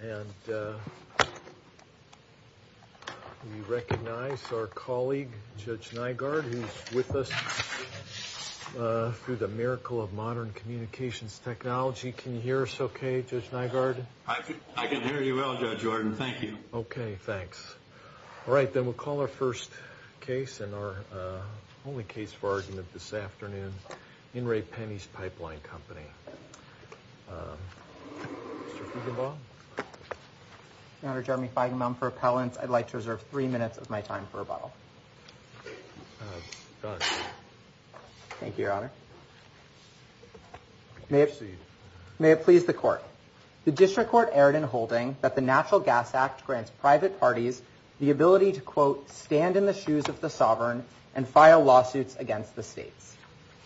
And we recognize our colleague, Judge Nygaard, who's with us through the miracle of modern communications technology. Can you hear us OK, Judge Nygaard? I can hear you well, Judge Jordan. Thank you. OK, thanks. All right. Then we'll call our first case and our only case for argument this afternoon. In Re Penn East Pipeline Company. Mr. Fuggenbaum? Mr. Jeremy Fuggenbaum for appellants. I'd like to reserve three minutes of my time for rebuttal. Thank you, Your Honor. May it please the court. The district court erred in holding that the Natural Gas Act grants private parties the ability to, quote, stand in the shoes of the sovereign and file lawsuits against the states.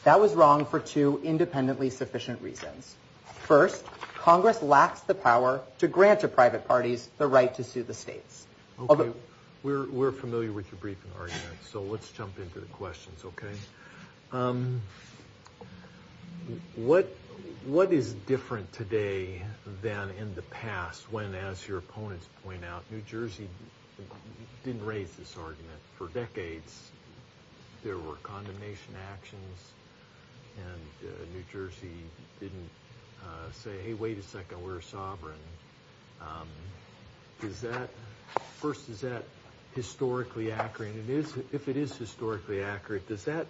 That was wrong for two independently sufficient reasons. First, Congress lacks the power to grant a private parties the right to sue the states. OK, we're familiar with your briefing argument. So let's jump into the questions, OK? What what is different today than in the past when, as your opponents point out, New Jersey didn't raise this argument for decades? There were condemnation actions and New Jersey didn't say, hey, wait a second, we're sovereign. Is that first, is that historically accurate? And if it is historically accurate, does that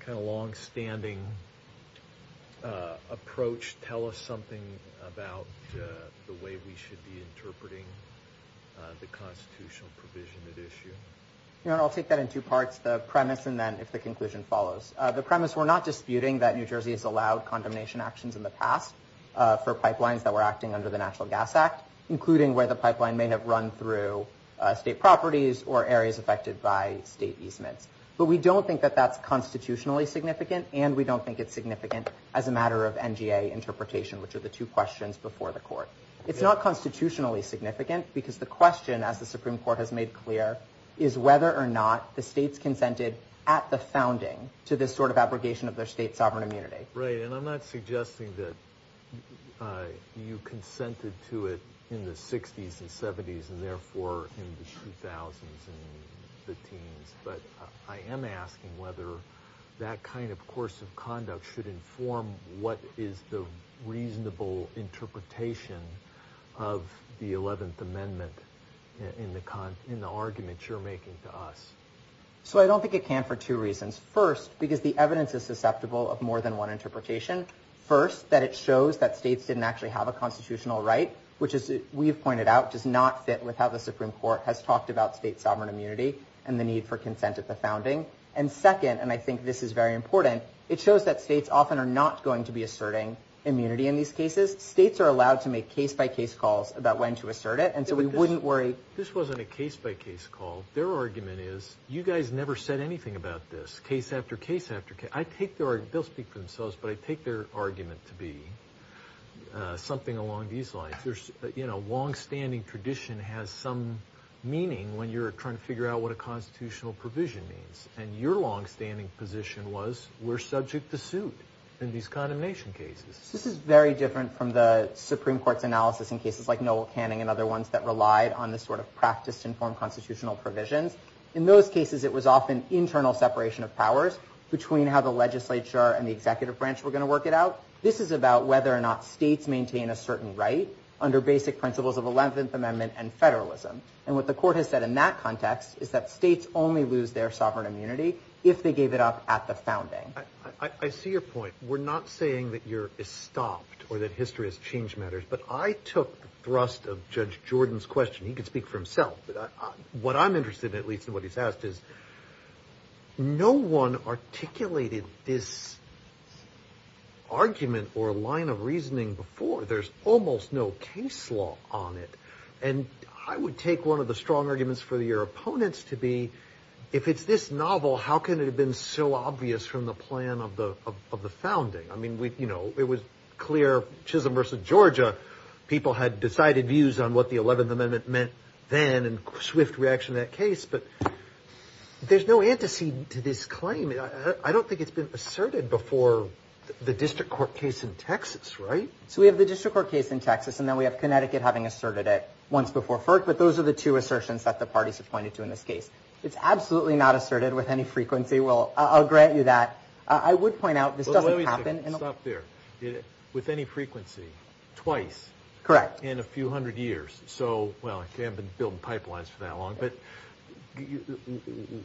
kind of longstanding approach tell us something about the way we should be interpreting the constitutional provision at issue? Your Honor, I'll take that in two parts, the premise and then if the conclusion follows. The premise, we're not disputing that New Jersey has allowed condemnation actions in the past for pipelines that were acting under the Natural Gas Act, including where the pipeline may have run through state properties or areas affected by state easements. But we don't think that that's constitutionally significant and we don't think it's significant as a matter of NGA interpretation, which are the two questions before the court. It's not constitutionally significant because the question, as the Supreme Court has made clear, is whether or not the states consented at the founding to this sort of abrogation of their state sovereign immunity. Right. And I'm not suggesting that you consented to it in the 60s and 70s and therefore in the 2000s and the teens. But I am asking whether that kind of course of conduct should inform what is the reasonable interpretation of the 11th Amendment in the argument you're making to us. So I don't think it can for two reasons. First, because the evidence is susceptible of more than one interpretation. First, that it shows that states didn't actually have a constitutional right, which, as we've pointed out, does not fit with how the Supreme Court has talked about state sovereign immunity and the need for consent at the founding. And second, and I think this is very important, it shows that states often are not going to be asserting immunity in these cases. States are allowed to make case by case calls about when to assert it. And so we wouldn't worry. This wasn't a case by case call. Their argument is you guys never said anything about this case after case after case. I take their, they'll speak for themselves, but I take their argument to be something along these lines. There's, you know, longstanding tradition has some meaning when you're trying to figure out what a constitutional provision means. And your longstanding position was we're subject to suit in these condemnation cases. This is very different from the Supreme Court's analysis in cases like Noel Canning and other ones that relied on this sort of practice to inform constitutional provisions. In those cases, it was often internal separation of powers between how the legislature and the executive branch were going to work it out. This is about whether or not states maintain a certain right under basic principles of 11th Amendment and federalism. And what the court has said in that context is that states only lose their sovereign immunity if they gave it up at the founding. I see your point. We're not saying that Europe is stopped or that history has changed matters, but I took the thrust of Judge Jordan's question. He can speak for himself. What I'm interested in, at least in what he's asked, is no one articulated this argument or line of reasoning before. There's almost no case law on it. And I would take one of the strong arguments for your opponents to be if it's this novel, how can it have been so obvious from the plan of the founding? I mean, you know, it was clear Chisholm versus Georgia. People had decided views on what the 11th Amendment meant then and swift reaction to that case. But there's no antecedent to this claim. I don't think it's been asserted before the district court case in Texas, right? So we have the district court case in Texas, and then we have Connecticut having asserted it once before FERC. But those are the two assertions that the parties have pointed to in this case. It's absolutely not asserted with any frequency. I'll grant you that. I would point out this doesn't happen. Stop there. With any frequency, twice. Correct. In a few hundred years. So, well, okay, I've been building pipelines for that long, but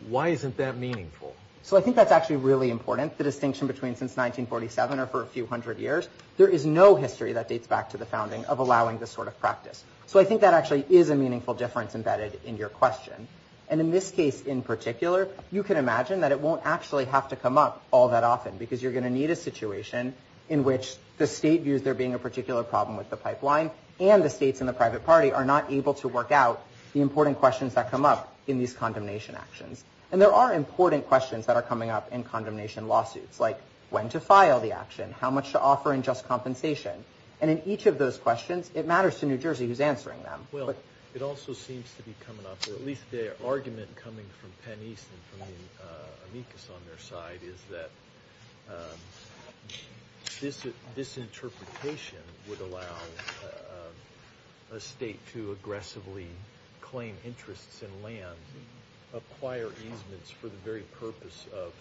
why isn't that meaningful? So I think that's actually really important, the distinction between since 1947 or for a few hundred years. There is no history that dates back to the founding of allowing this sort of practice. So I think that actually is a meaningful difference embedded in your question. And in this case in particular, you can imagine that it won't actually have to come up all that often, because you're going to need a situation in which the state views there being a particular problem with the pipeline, and the states and the private party are not able to work out the important questions that come up in these condemnation actions. And there are important questions that are coming up in condemnation lawsuits, like when to file the action, how much to offer in just compensation. And in each of those questions, it matters to New Jersey who's answering them. Well, it also seems to be coming up, or at least the argument coming from Penn East and from the amicus on their side, is that this interpretation would allow a state to aggressively claim interests in land, acquire easements for the very purpose of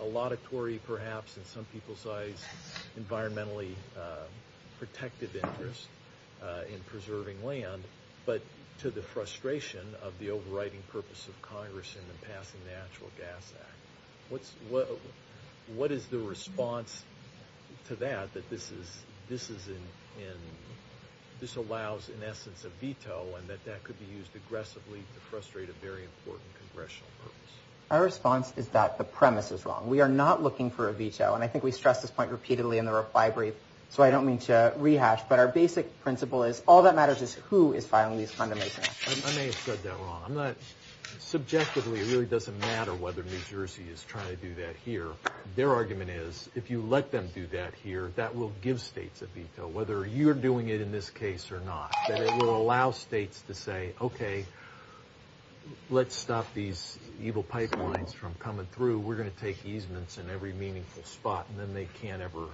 a laudatory, perhaps in some people's eyes, environmentally protective interest in preserving land, but to the frustration of the overriding purpose of Congress in the passing of the Natural Gas Act. What is the response to that, that this allows, in essence, a veto, and that that could be used aggressively to frustrate a very important congressional purpose? Our response is that the premise is wrong. We are not looking for a veto, and I think we stress this point repeatedly in the reply brief, so I don't mean to rehash, but our basic principle is all that matters is who is filing these condemnation actions. I may have said that wrong. Subjectively, it really doesn't matter whether New Jersey is trying to do that here. Their argument is, if you let them do that here, that will give states a veto, whether you're doing it in this case or not, that it will allow states to say, okay, let's stop these evil pipelines from coming through. We're going to take easements in every meaningful spot, and then they can't ever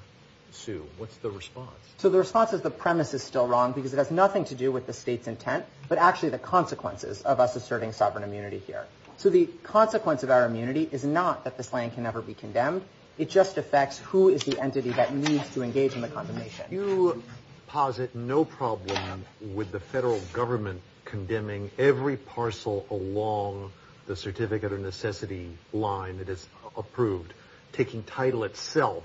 sue. What's the response? So the response is the premise is still wrong because it has nothing to do with the state's intent, but actually the consequences of us asserting sovereign immunity here. So the consequence of our immunity is not that this land can never be condemned. It just affects who is the entity that needs to engage in the condemnation. You posit no problem with the federal government condemning every parcel along the certificate or necessity line that is approved, taking title itself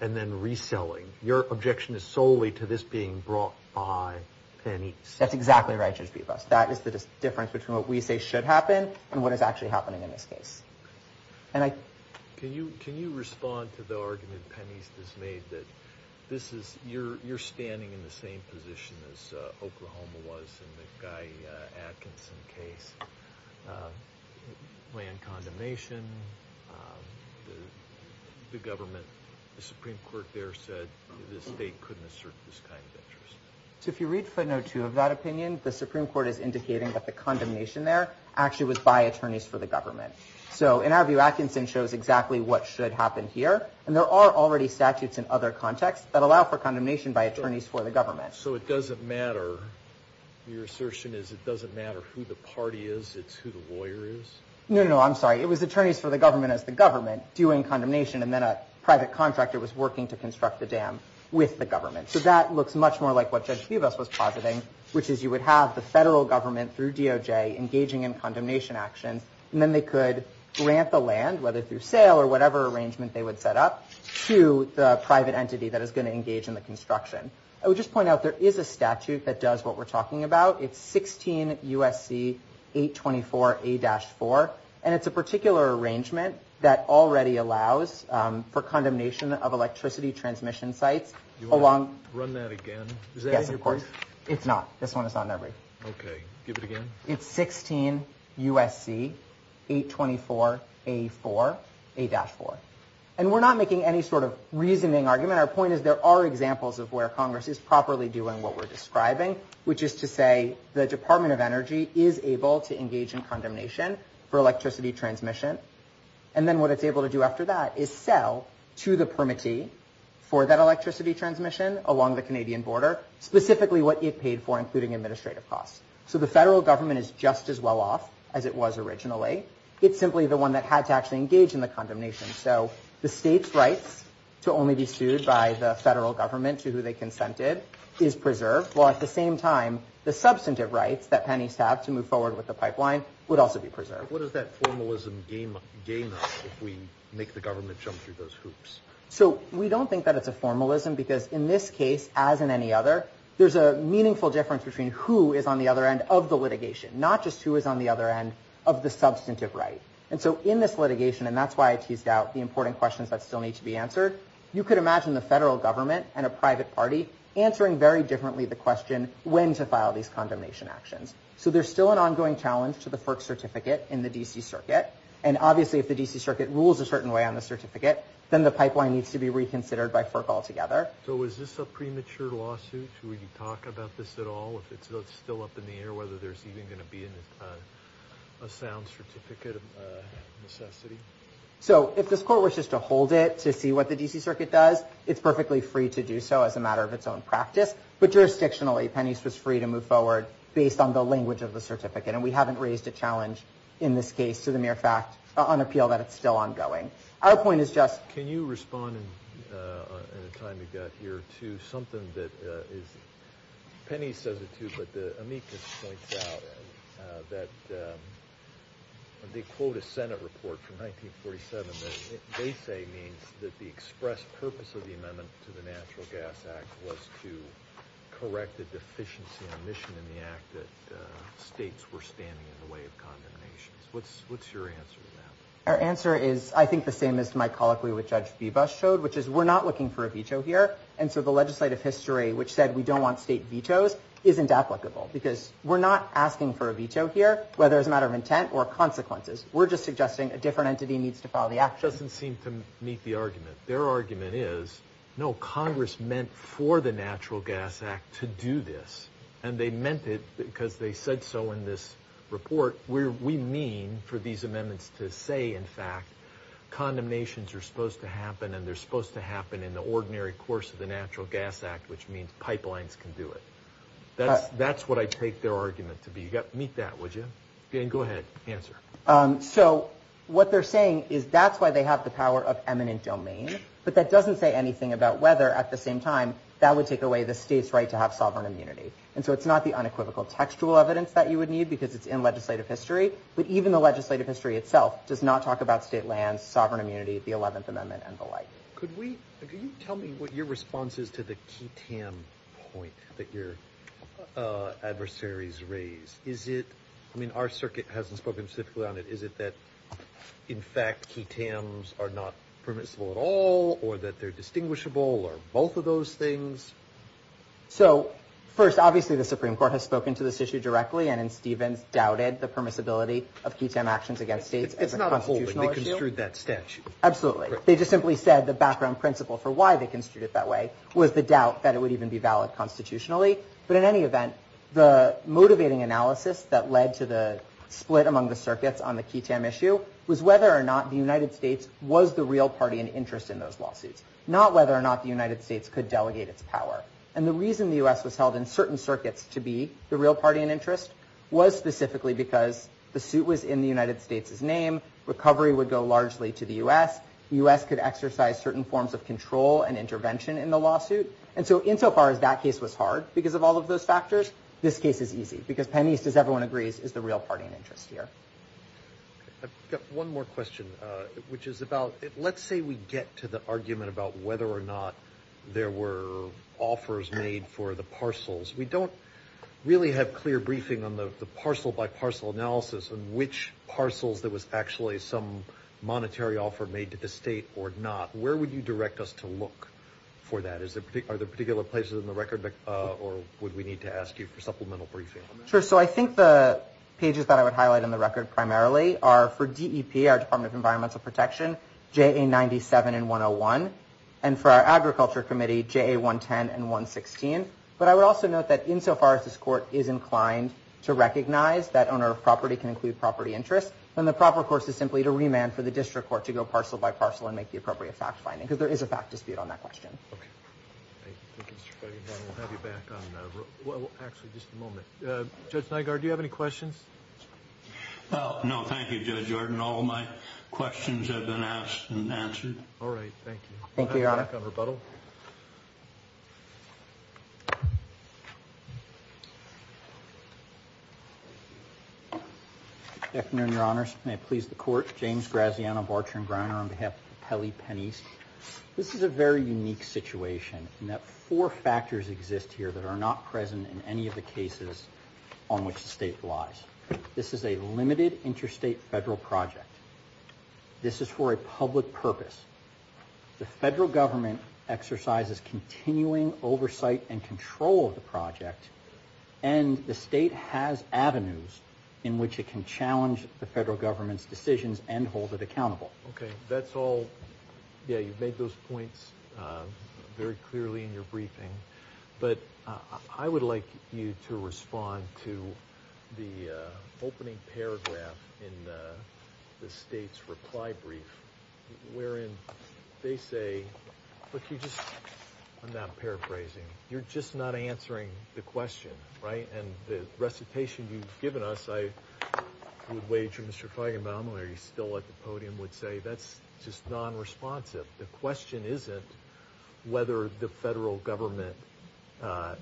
and then reselling. Your objection is solely to this being brought by pennies. That's exactly right, Judge Bibas. That is the difference between what we say should happen and what is actually happening in this case. Can you respond to the argument Penny has made that you're standing in the same position as Oklahoma was in the Guy Atkinson case? Land condemnation, the government, the Supreme Court there said the state couldn't assert this kind of interest. So if you read footnote two of that opinion, the Supreme Court is indicating that the condemnation there actually was by attorneys for the government. So in our view, Atkinson shows exactly what should happen here. And there are already statutes in other contexts that allow for condemnation by attorneys for the government. So it doesn't matter. Your assertion is it doesn't matter who the party is. It's who the lawyer is. No, no, I'm sorry. It was attorneys for the government as the government doing condemnation. And then a private contractor was working to construct the dam with the government. So that looks much more like what Judge Kivas was positing, which is you would have the federal government through DOJ engaging in condemnation actions. And then they could grant the land, whether through sale or whatever arrangement they would set up to the private entity that is going to engage in the construction. I would just point out there is a statute that does what we're talking about. It's 16 U.S.C. 824 A-4. And it's a particular arrangement that already allows for condemnation of electricity transmission sites. Do you want to run that again? Yes, of course. Is that in your brief? It's not. This one is not in my brief. Okay, give it again. It's 16 U.S.C. 824 A-4. And we're not making any sort of reasoning argument. Our point is there are examples of where Congress is properly doing what we're describing, which is to say the Department of Energy is able to engage in condemnation for electricity transmission. And then what it's able to do after that is sell to the permittee for that electricity transmission along the Canadian border, specifically what it paid for, including administrative costs. So the federal government is just as well off as it was originally. It's simply the one that had to actually engage in the condemnation. So the state's rights to only be sued by the federal government to who they consented is preserved. While at the same time, the substantive rights that pennies have to move forward with the pipeline would also be preserved. What does that formalism gain us if we make the government jump through those hoops? So we don't think that it's a formalism because in this case, as in any other, there's a meaningful difference between who is on the other end of the litigation, not just who is on the other end of the substantive right. And so in this litigation, and that's why I teased out the important questions that still need to be answered, you could imagine the federal government and a private party answering very differently the question, when to file these condemnation actions. So there's still an ongoing challenge to the FERC certificate in the D.C. Circuit. And obviously, if the D.C. Circuit rules a certain way on the certificate, then the pipeline needs to be reconsidered by FERC altogether. So is this a premature lawsuit? Should we talk about this at all if it's still up in the air, whether there's even going to be a sound certificate of necessity? So if this court wishes to hold it to see what the D.C. Circuit does, it's perfectly free to do so as a matter of its own practice. But jurisdictionally, Penney's was free to move forward based on the language of the certificate. And we haven't raised a challenge in this case to the mere fact, on appeal, that it's still ongoing. Our point is just – Can you respond in the time you've got here to something that is – The Senate report from 1947, they say, means that the express purpose of the amendment to the Natural Gas Act was to correct the deficiency in emission in the act that states were standing in the way of condemnations. What's your answer to that? Our answer is, I think, the same as my colloquy which Judge Bebas showed, which is we're not looking for a veto here. And so the legislative history which said we don't want state vetoes isn't applicable because we're not asking for a veto here, whether it's a matter of intent or consequences. We're just suggesting a different entity needs to follow the action. It doesn't seem to meet the argument. Their argument is, no, Congress meant for the Natural Gas Act to do this. And they meant it because they said so in this report. We mean for these amendments to say, in fact, condemnations are supposed to happen and they're supposed to happen in the ordinary course of the Natural Gas Act, which means pipelines can do it. That's what I take their argument to be. Meet that, would you? Go ahead, answer. So what they're saying is that's why they have the power of eminent domain. But that doesn't say anything about whether, at the same time, that would take away the state's right to have sovereign immunity. And so it's not the unequivocal textual evidence that you would need because it's in legislative history. But even the legislative history itself does not talk about state lands, sovereign immunity, the 11th Amendment, and the like. Could you tell me what your response is to the key 10 point that your adversaries raised? I mean, our circuit hasn't spoken specifically on it. Is it that, in fact, key 10s are not permissible at all or that they're distinguishable or both of those things? So first, obviously, the Supreme Court has spoken to this issue directly and in Stevens doubted the permissibility of key 10 actions against states as a constitutional issue. It's not a holding. They construed that statute. Absolutely. They just simply said the background principle for why they construed it that way was the doubt that it would even be valid constitutionally. But in any event, the motivating analysis that led to the split among the circuits on the key 10 issue was whether or not the United States was the real party in interest in those lawsuits, not whether or not the United States could delegate its power. And the reason the U.S. was held in certain circuits to be the real party in interest was specifically because the suit was in the United States' name. Recovery would go largely to the U.S. The U.S. could exercise certain forms of control and intervention in the lawsuit. And so insofar as that case was hard because of all of those factors, this case is easy because Penn East, as everyone agrees, is the real party in interest here. I've got one more question, which is about let's say we get to the argument about whether or not there were offers made for the parcels. We don't really have clear briefing on the parcel-by-parcel analysis on which parcels there was actually some monetary offer made to the state or not. Where would you direct us to look for that? Are there particular places in the record, or would we need to ask you for supplemental briefing? Sure. So I think the pages that I would highlight in the record primarily are for DEP, our Department of Environmental Protection, JA97 and 101, and for our Agriculture Committee, JA110 and 116. But I would also note that insofar as this court is inclined to recognize that owner of property can include property interest, then the proper course is simply to remand for the district court to go parcel-by-parcel and make the appropriate fact-finding, because there is a fact dispute on that question. Okay. Thank you, Mr. Feigenbaum. We'll have you back on – well, actually, just a moment. Judge Nygaard, do you have any questions? No. Thank you, Judge Arden. All of my questions have been asked and answered. All right. Thank you. Thank you, Your Honor. We'll have you back on rebuttal. Good afternoon, Your Honors. May it please the Court. James Graziano, Barcher & Griner on behalf of the Pele Penneys. This is a very unique situation in that four factors exist here that are not present in any of the cases on which the State relies. This is a limited interstate federal project. This is for a public purpose. The federal government exercises continuing oversight and control of the project, and the State has avenues in which it can challenge the federal government's decisions and hold it accountable. Okay. That's all – yeah, you've made those points very clearly in your briefing. But I would like you to respond to the opening paragraph in the State's reply brief, wherein they say – look, you just – I'm not paraphrasing. You're just not answering the question, right? And the recitation you've given us, I would wager Mr. Feigenbaum, who is still at the podium, would say that's just nonresponsive. The question isn't whether the federal government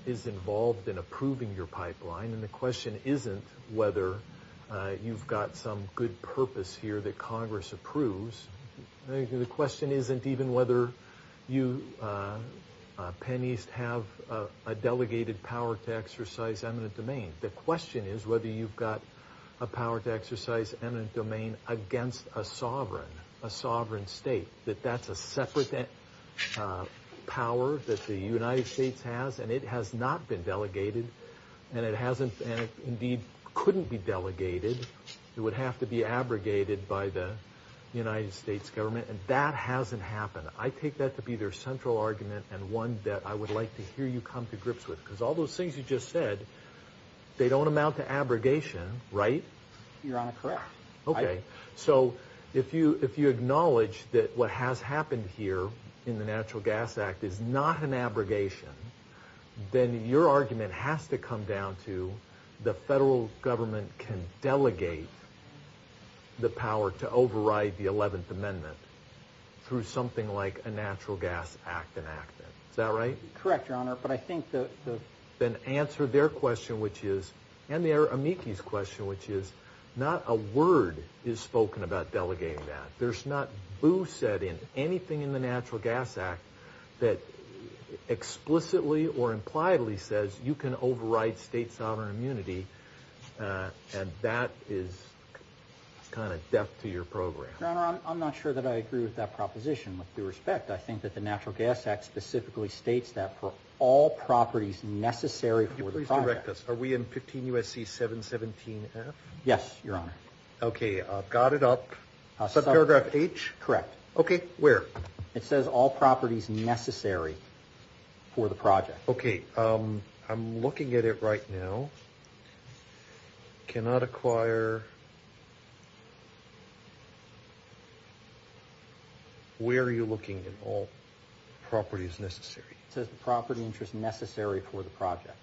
is involved in approving your pipeline, and the question isn't whether you've got some good purpose here that Congress approves. The question isn't even whether you, Penn East, have a delegated power to exercise eminent domain. The question is whether you've got a power to exercise eminent domain against a sovereign, a sovereign State, that that's a separate power that the United States has, and it has not been delegated, and it hasn't – and it indeed couldn't be delegated. It would have to be abrogated by the United States government, and that hasn't happened. I take that to be their central argument and one that I would like to hear you come to grips with, because all those things you just said, they don't amount to abrogation, right? You're correct. Okay. So if you acknowledge that what has happened here in the Natural Gas Act is not an abrogation, then your argument has to come down to the federal government can delegate the power to override the 11th Amendment through something like a Natural Gas Act enactment. Is that right? Correct, Your Honor, but I think the – Then answer their question, which is – and their amici's question, which is not a word is spoken about delegating that. There's not boo said in anything in the Natural Gas Act that explicitly or impliedly says you can override state sovereign immunity, and that is kind of deaf to your program. Your Honor, I'm not sure that I agree with that proposition. With due respect, I think that the Natural Gas Act specifically states that for all properties necessary for the project. Can you please direct us? Are we in 15 U.S.C. 717F? Yes, Your Honor. Okay. I've got it up. Subparagraph H? Correct. Okay. Where? It says all properties necessary for the project. Okay. I'm looking at it right now. Cannot acquire – where are you looking at all properties necessary? It says the property interest necessary for the project.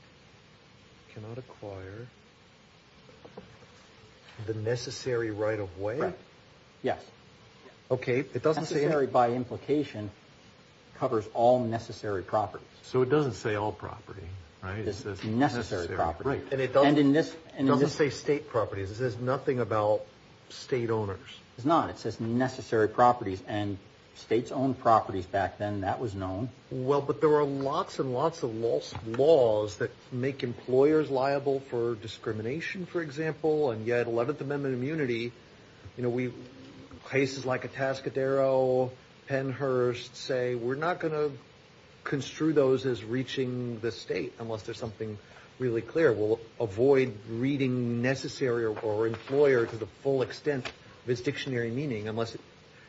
Cannot acquire the necessary right of way? Right. Yes. Okay. It doesn't say – Necessary by implication covers all necessary properties. So it doesn't say all property, right? It says necessary property. Right. And it doesn't – And in this – It doesn't say state properties. It says nothing about state owners. It's not. It says necessary properties, and states owned properties back then, that was known. Well, but there are lots and lots of laws that make employers liable for discrimination, for example, and yet 11th Amendment immunity, you know, we – places like Atascadero, Pennhurst, say we're not going to construe those as reaching the state unless there's something really clear. We'll avoid reading necessary or employer to the full extent of its dictionary meaning unless it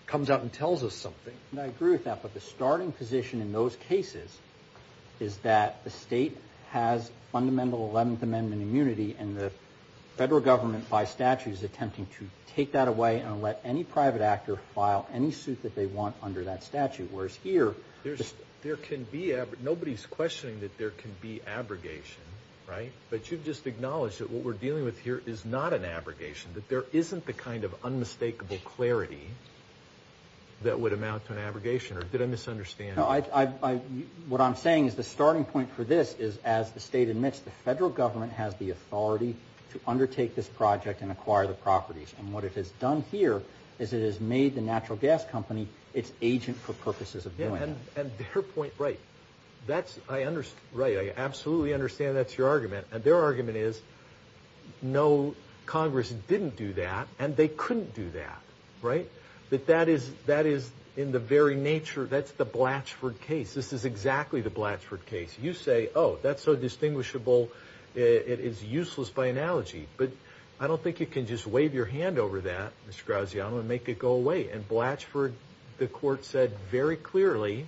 comes out and tells us something. And I agree with that, but the starting position in those cases is that the state has fundamental 11th Amendment immunity, and the federal government by statute is attempting to take that away and let any private actor file any suit that they want under that statute, whereas here – There can be – nobody's questioning that there can be abrogation, right? But you've just acknowledged that what we're dealing with here is not an abrogation, that there isn't the kind of unmistakable clarity that would amount to an abrogation, or did I misunderstand? No, I – what I'm saying is the starting point for this is, as the state admits, the federal government has the authority to undertake this project and acquire the properties, and what it has done here is it has made the natural gas company its agent for purposes of doing that. Yeah, and their point – right. That's – I – right, I absolutely understand that's your argument. And their argument is no, Congress didn't do that, and they couldn't do that, right? That that is in the very nature – that's the Blatchford case. This is exactly the Blatchford case. You say, oh, that's so distinguishable, it is useless by analogy. But I don't think you can just wave your hand over that, Mr. Graziano, and make it go away. And Blatchford, the court said very clearly,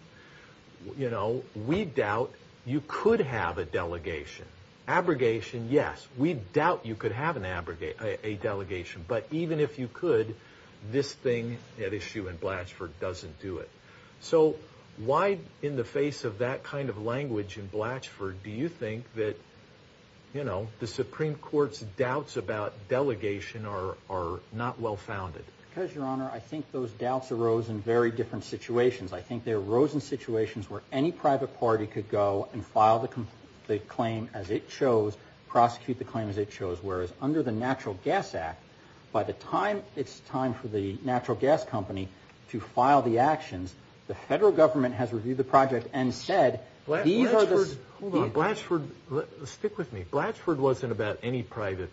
you know, we doubt you could have a delegation. Abrogation, yes. We doubt you could have an abrogation – a delegation. But even if you could, this thing at issue in Blatchford doesn't do it. So why, in the face of that kind of language in Blatchford, do you think that, you know, the Supreme Court's doubts about delegation are not well founded? Because, Your Honor, I think those doubts arose in very different situations. I think they arose in situations where any private party could go and file the claim as it chose, prosecute the claim as it chose, whereas under the Natural Gas Act, by the time it's time for the natural gas company to file the actions, the federal government has reviewed the project and said, these are the – Hold on. Blatchford – stick with me. Blatchford wasn't about any private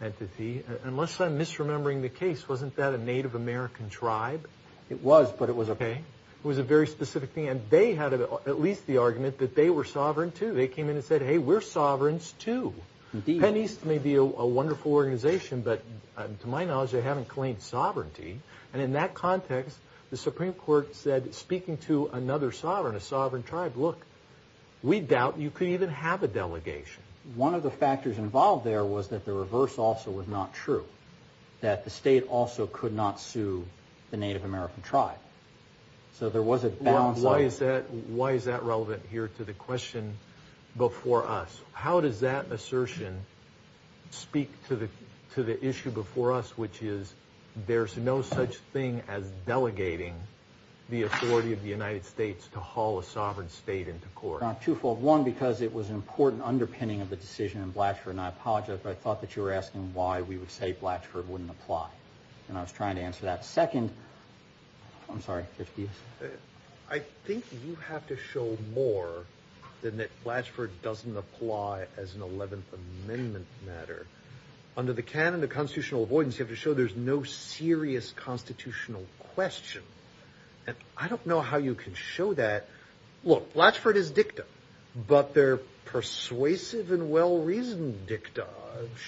entity. Unless I'm misremembering the case, wasn't that a Native American tribe? It was, but it was a – Okay. It was a very specific thing. And they had at least the argument that they were sovereign, too. They came in and said, hey, we're sovereigns, too. Indeed. Penn East may be a wonderful organization, but to my knowledge, they haven't claimed sovereignty. And in that context, the Supreme Court said, speaking to another sovereign, a sovereign tribe, look, we doubt you could even have a delegation. One of the factors involved there was that the reverse also was not true, that the state also could not sue the Native American tribe. So there was a balance. Why is that relevant here to the question before us? How does that assertion speak to the issue before us, which is there's no such thing as delegating the authority of the United States to haul a sovereign state into court? Twofold. And I apologize, but I thought that you were asking why we would say Blatchford wouldn't apply. And I was trying to answer that. Second, I'm sorry. I think you have to show more than that Blatchford doesn't apply as an 11th Amendment matter. Under the canon of constitutional avoidance, you have to show there's no serious constitutional question. And I don't know how you can show that. Look, Blatchford is dicta, but they're persuasive and well-reasoned dicta.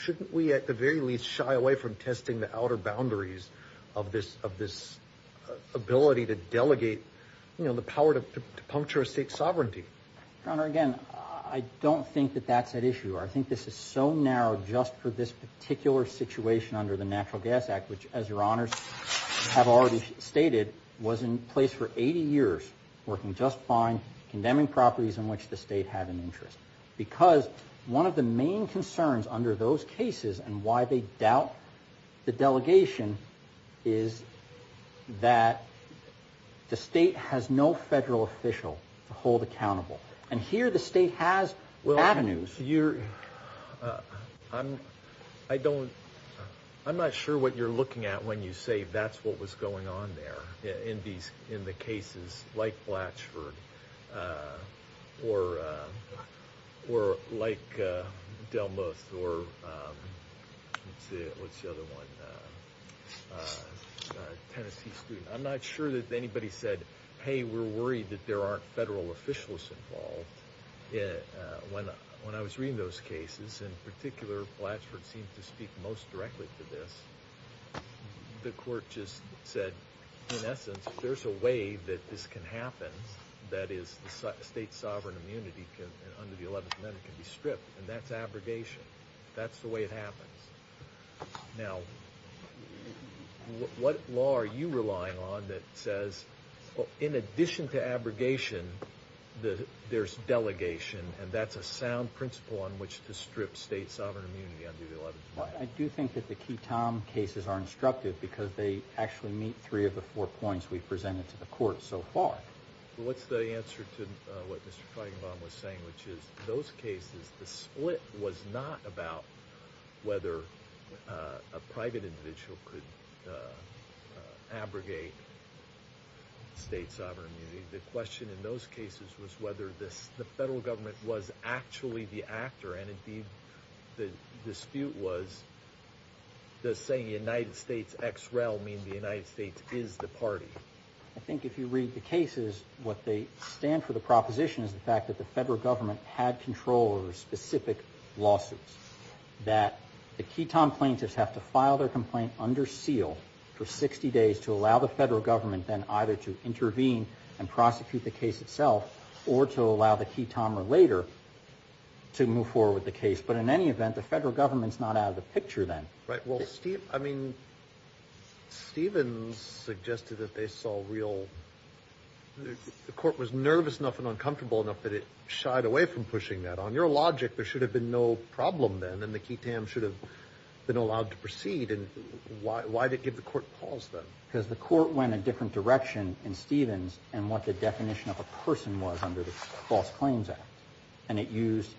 Shouldn't we at the very least shy away from testing the outer boundaries of this ability to delegate, you know, the power to puncture a state's sovereignty? Your Honor, again, I don't think that that's at issue. I think this is so narrow just for this particular situation under the Natural Gas Act, which, as Your Honors have already stated, was in place for 80 years, working just fine, condemning properties in which the state had an interest. Because one of the main concerns under those cases and why they doubt the delegation is that the state has no federal official to hold accountable. And here the state has avenues. I'm not sure what you're looking at when you say that's what was going on there in the cases like Blatchford or like Delmuth or Tennessee Street. I'm not sure that anybody said, hey, we're worried that there aren't federal officials involved. When I was reading those cases, in particular, Blatchford seemed to speak most directly to this. The court just said, in essence, there's a way that this can happen, that is, the state's sovereign immunity under the 11th Amendment can be stripped, and that's abrogation. That's the way it happens. Now, what law are you relying on that says, in addition to abrogation, there's delegation, and that's a sound principle on which to strip state sovereign immunity under the 11th Amendment? I do think that the Keatom cases are instructive because they actually meet three of the four points we've presented to the court so far. Well, what's the answer to what Mr. Feigenbaum was saying, which is those cases, the split was not about whether a private individual could abrogate state sovereign immunity. The question in those cases was whether the federal government was actually the actor, and indeed the dispute was, does saying United States ex-rel mean the United States is the party? I think if you read the cases, what they stand for, the proposition is the fact that the federal government had control over specific lawsuits, that the Keatom plaintiffs have to file their complaint under seal for 60 days to allow the federal government then either to intervene and prosecute the case itself or to allow the Keatomer later to move forward with the case. But in any event, the federal government's not out of the picture then. Right. Well, Steve, I mean, Stevens suggested that they saw real, the court was nervous enough and uncomfortable enough that it shied away from pushing that. On your logic, there should have been no problem then, and the Keatom should have been allowed to proceed. And why did it give the court pause then? Because the court went a different direction in Stevens and what the definition of a person was under the False Claims Act. And it used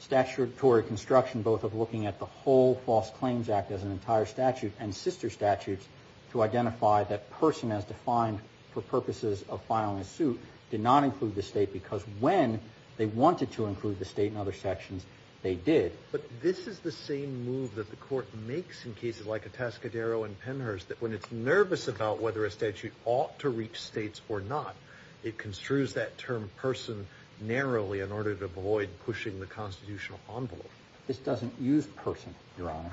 statutory construction both of looking at the whole False Claims Act as an entire statute and sister statutes to identify that person as defined for purposes of filing a suit did not include the state because when they wanted to include the state in other sections, they did. But this is the same move that the court makes in cases like Atascadero and Penhurst that when it's nervous about whether a statute ought to reach states or not, it construes that term person narrowly in order to avoid pushing the constitutional envelope. This doesn't use person, Your Honor.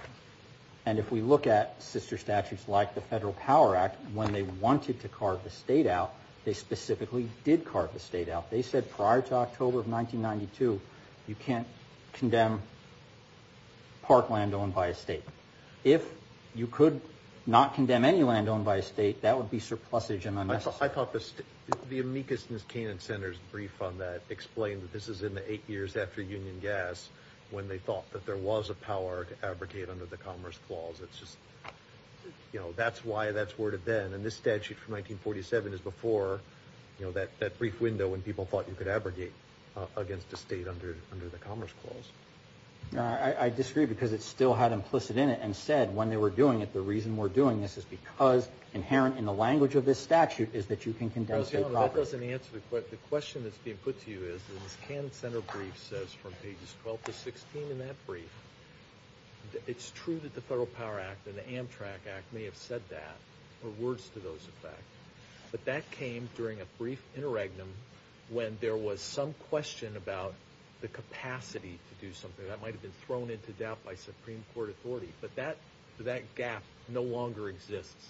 And if we look at sister statutes like the Federal Power Act, when they wanted to carve the state out, they specifically did carve the state out. They said prior to October of 1992, you can't condemn parkland owned by a state. If you could not condemn any land owned by a state, that would be surplusage and unnecessary. I thought the amicus in this Canaan Center's brief on that explained that this is in the eight years after Union Gas when they thought that there was a power to abrogate under the Commerce Clause. It's just, you know, that's why that's worded then. And this statute from 1947 is before, you know, that brief window when people thought you could abrogate against the state under the Commerce Clause. I disagree because it still had implicit in it and said when they were doing it, the reason we're doing this is because inherent in the language of this statute is that you can condemn state property. That doesn't answer the question. The question that's being put to you is this Canaan Center brief says from pages 12 to 16 in that brief, it's true that the Federal Power Act and the Amtrak Act may have said that or words to those effects. But that came during a brief interregnum when there was some question about the capacity to do something. That might have been thrown into doubt by Supreme Court authority. But that gap no longer exists.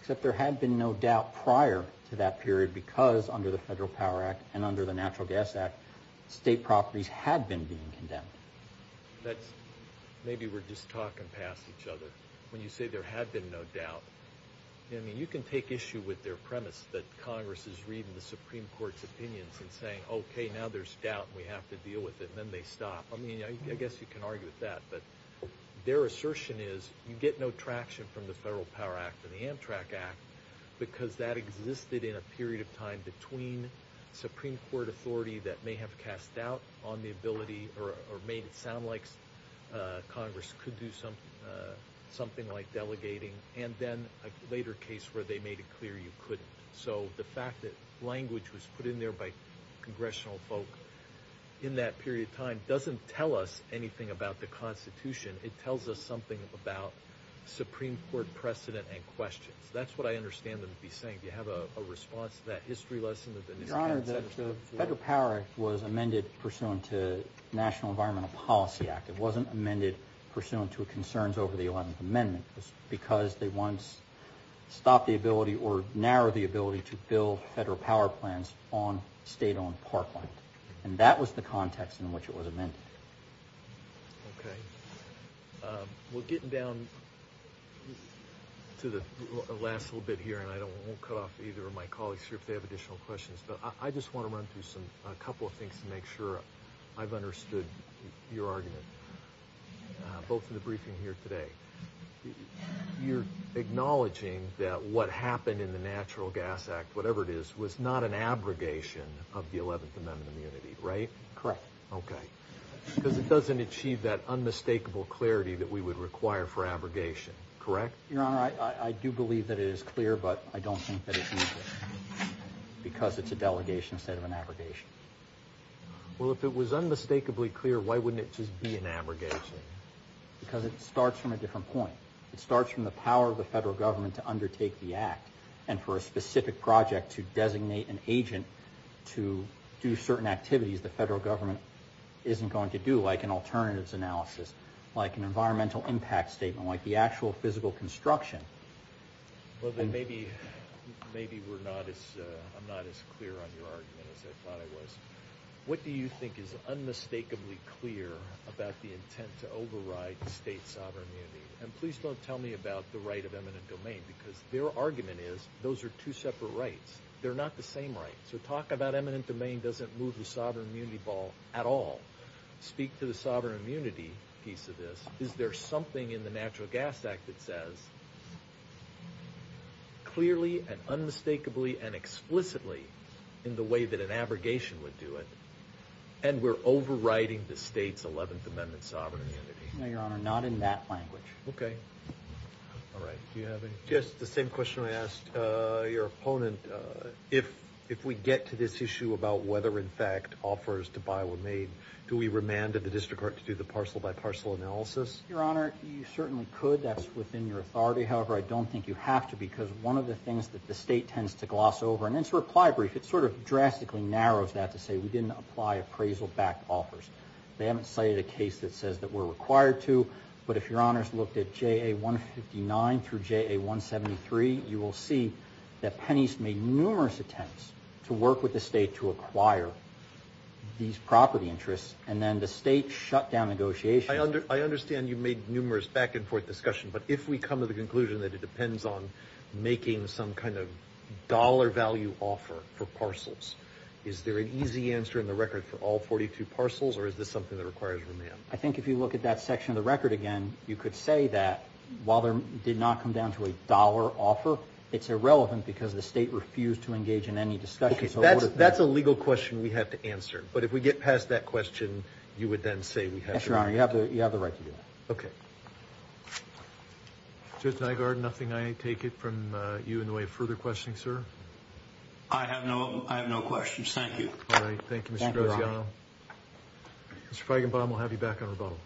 Except there had been no doubt prior to that period because under the Federal Power Act and under the Natural Gas Act, state properties had been being condemned. That's maybe we're just talking past each other. When you say there had been no doubt, I mean, you can take issue with their premise that Congress is reading the Supreme Court's opinions and saying, okay, now there's doubt and we have to deal with it and then they stop. I mean, I guess you can argue with that. But their assertion is you get no traction from the Federal Power Act and the Amtrak Act because that existed in a period of time between Supreme Court authority that may have cast doubt on the ability or made it sound like Congress could do something like delegating and then a later case where they made it clear you couldn't. So the fact that language was put in there by congressional folk in that period of time doesn't tell us anything about the Constitution. It tells us something about Supreme Court precedent and questions. That's what I understand them to be saying. Do you have a response to that history lesson? Your Honor, the Federal Power Act was amended pursuant to National Environmental Policy Act. It wasn't amended pursuant to concerns over the Eleventh Amendment. It was because they once stopped the ability or narrowed the ability to build federal power plants on state-owned parkland. And that was the context in which it was amended. Okay. Well, getting down to the last little bit here, and I won't cut off either of my colleagues here if they have additional questions, but I just want to run through a couple of things to make sure I've understood your argument, both in the briefing here today. You're acknowledging that what happened in the Natural Gas Act, whatever it is, was not an abrogation of the Eleventh Amendment immunity, right? Correct. Okay. Because it doesn't achieve that unmistakable clarity that we would require for abrogation, correct? Your Honor, I do believe that it is clear, but I don't think that it's useful because it's a delegation instead of an abrogation. Well, if it was unmistakably clear, why wouldn't it just be an abrogation? Because it starts from a different point. It starts from the power of the federal government to undertake the act, and for a specific project to designate an agent to do certain activities the federal government isn't going to do, like an alternatives analysis, like an environmental impact statement, like the actual physical construction. Well, then maybe I'm not as clear on your argument as I thought I was. What do you think is unmistakably clear about the intent to override state sovereign immunity? And please don't tell me about the right of eminent domain, because their argument is those are two separate rights. They're not the same right. So talk about eminent domain doesn't move the sovereign immunity ball at all. Speak to the sovereign immunity piece of this. Is there something in the Natural Gas Act that says clearly and unmistakably and explicitly in the way that an abrogation would do it, and we're overriding the state's 11th Amendment sovereign immunity? No, Your Honor, not in that language. Okay. All right. Do you have any? Just the same question I asked your opponent. If we get to this issue about whether, in fact, offers to buy were made, do we remand the district court to do the parcel-by-parcel analysis? Your Honor, you certainly could. That's within your authority. However, I don't think you have to, because one of the things that the state tends to gloss over, and it's a reply brief. It sort of drastically narrows that to say we didn't apply appraisal-backed offers. They haven't cited a case that says that we're required to. But if Your Honor's looked at JA-159 through JA-173, you will see that Penney's made numerous attempts to work with the state to acquire these property interests, and then the state shut down negotiations. I understand you made numerous back-and-forth discussions, but if we come to the conclusion that it depends on making some kind of dollar-value offer for parcels, is there an easy answer in the record for all 42 parcels, or is this something that requires remand? I think if you look at that section of the record again, you could say that while there did not come down to a dollar offer, it's irrelevant because the state refused to engage in any discussions. That's a legal question we have to answer. But if we get past that question, you would then say we have to. Yes, Your Honor, you have the right to do that. Okay. Judge Nygaard, nothing I take it from you in the way of further questioning, sir? I have no questions. Thank you. All right. Thank you, Mr. Graziano. Mr. Feigenbaum, we'll have you back on rebuttal.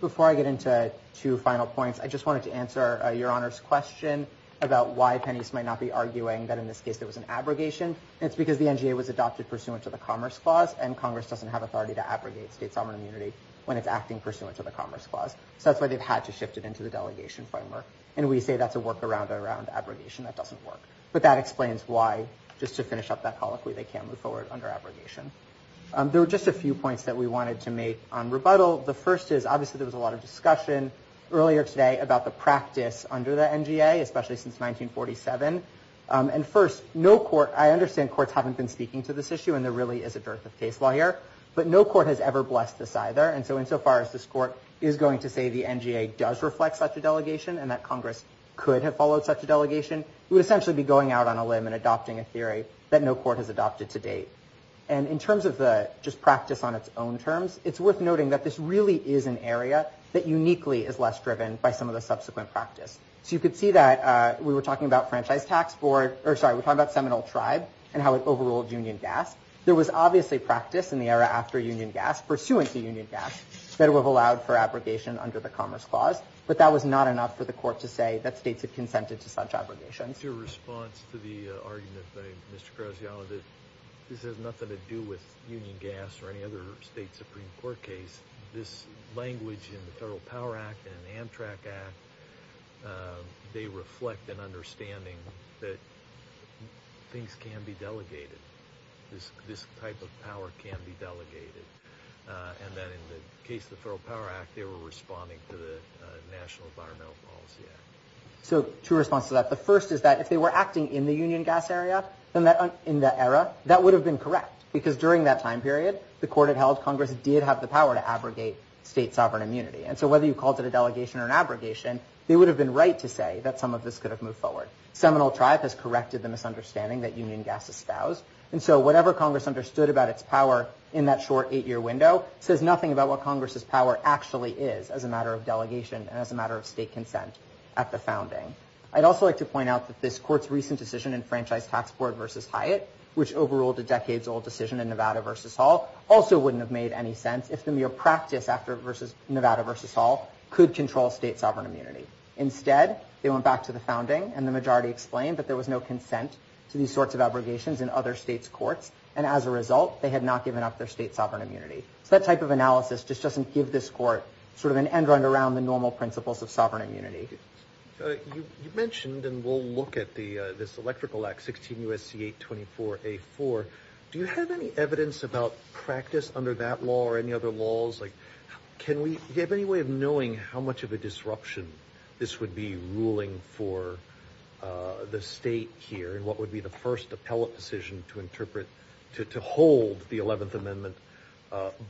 Before I get into two final points, I just wanted to answer Your Honor's question about why Penny's might not be arguing that in this case there was an abrogation. It's because the NGA was adopted pursuant to the Commerce Clause, and Congress doesn't have authority to abrogate state sovereign immunity when it's acting pursuant to the Commerce Clause. So that's why they've had to shift it into the delegation framework. And we say that's a workaround around abrogation. That doesn't work. But that explains why, just to finish up that colloquy, they can't move forward under abrogation. There were just a few points that we wanted to make on rebuttal. The first is, obviously, there was a lot of discussion earlier today about the practice under the NGA, especially since 1947. And first, I understand courts haven't been speaking to this issue, and there really is a dearth of case law here, but no court has ever blessed this either. And so insofar as this court is going to say the NGA does reflect such a delegation and that Congress could have followed such a delegation, it would essentially be going out on a limb and adopting a theory that no court has adopted to date. And in terms of just practice on its own terms, it's worth noting that this really is an area that uniquely is less driven by some of the subsequent practice. So you could see that we were talking about Seminole Tribe and how it overruled Union Gas. There was obviously practice in the era after Union Gas, pursuant to Union Gas, that it would have allowed for abrogation under the Commerce Clause, but that was not enough for the court to say that states had consented to such abrogations. Your response to the argument by Mr. Graziano that this has nothing to do with Union Gas or any other state Supreme Court case, this language in the Federal Power Act and Amtrak Act, they reflect an understanding that things can be delegated. This type of power can be delegated. And then in the case of the Federal Power Act, they were responding to the National Environmental Policy Act. So two responses to that. The first is that if they were acting in the Union Gas area in that era, that would have been correct because during that time period, the court had held Congress did have the power to abrogate state sovereign immunity. And so whether you called it a delegation or an abrogation, they would have been right to say that some of this could have moved forward. Seminole Tribe has corrected the misunderstanding that Union Gas espoused. And so whatever Congress understood about its power in that short eight-year window says nothing about what Congress's power actually is as a matter of delegation and as a matter of state consent at the founding. I'd also like to point out that this court's recent decision in Franchise Tax Board v. Hyatt, which overruled a decades-old decision in Nevada v. Hall, also wouldn't have made any sense if the mere practice after Nevada v. Hall could control state sovereign immunity. Instead, they went back to the founding to these sorts of abrogations in other states' courts, and as a result, they had not given up their state sovereign immunity. So that type of analysis just doesn't give this court sort of an end-run around the normal principles of sovereign immunity. You mentioned, and we'll look at this Electrical Act, 16 U.S.C. 824-A-4. Do you have any evidence about practice under that law or any other laws? Do you have any way of knowing how much of a disruption this would be ruling for the state here and what would be the first appellate decision to hold the 11th Amendment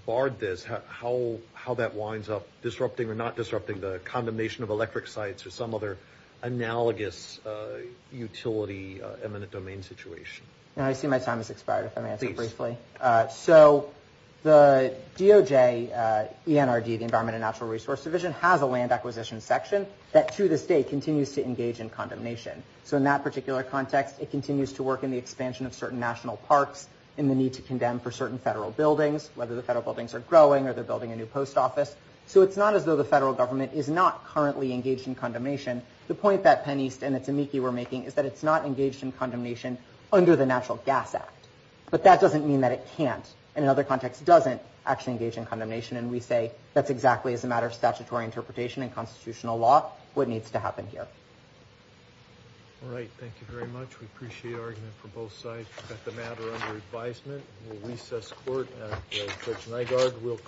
barred this, how that winds up disrupting or not disrupting the condemnation of electric sites or some other analogous utility eminent domain situation? I see my time has expired if I may answer briefly. Please. So the DOJ, ENRD, the Environment and Natural Resource Division, has a land acquisition section that, to this day, continues to engage in condemnation. So in that particular context, it continues to work in the expansion of certain national parks in the need to condemn for certain federal buildings, whether the federal buildings are growing or they're building a new post office. So it's not as though the federal government is not currently engaged in condemnation. The point that Penn East and that Tamieki were making is that it's not engaged in condemnation under the Natural Gas Act. But that doesn't mean that it can't, and in other contexts, doesn't actually engage in condemnation. And we say that's exactly, as a matter of statutory interpretation and constitutional law, what needs to happen here. All right. Thank you very much. We appreciate argument from both sides. We've got the matter under advisement. We'll recess court.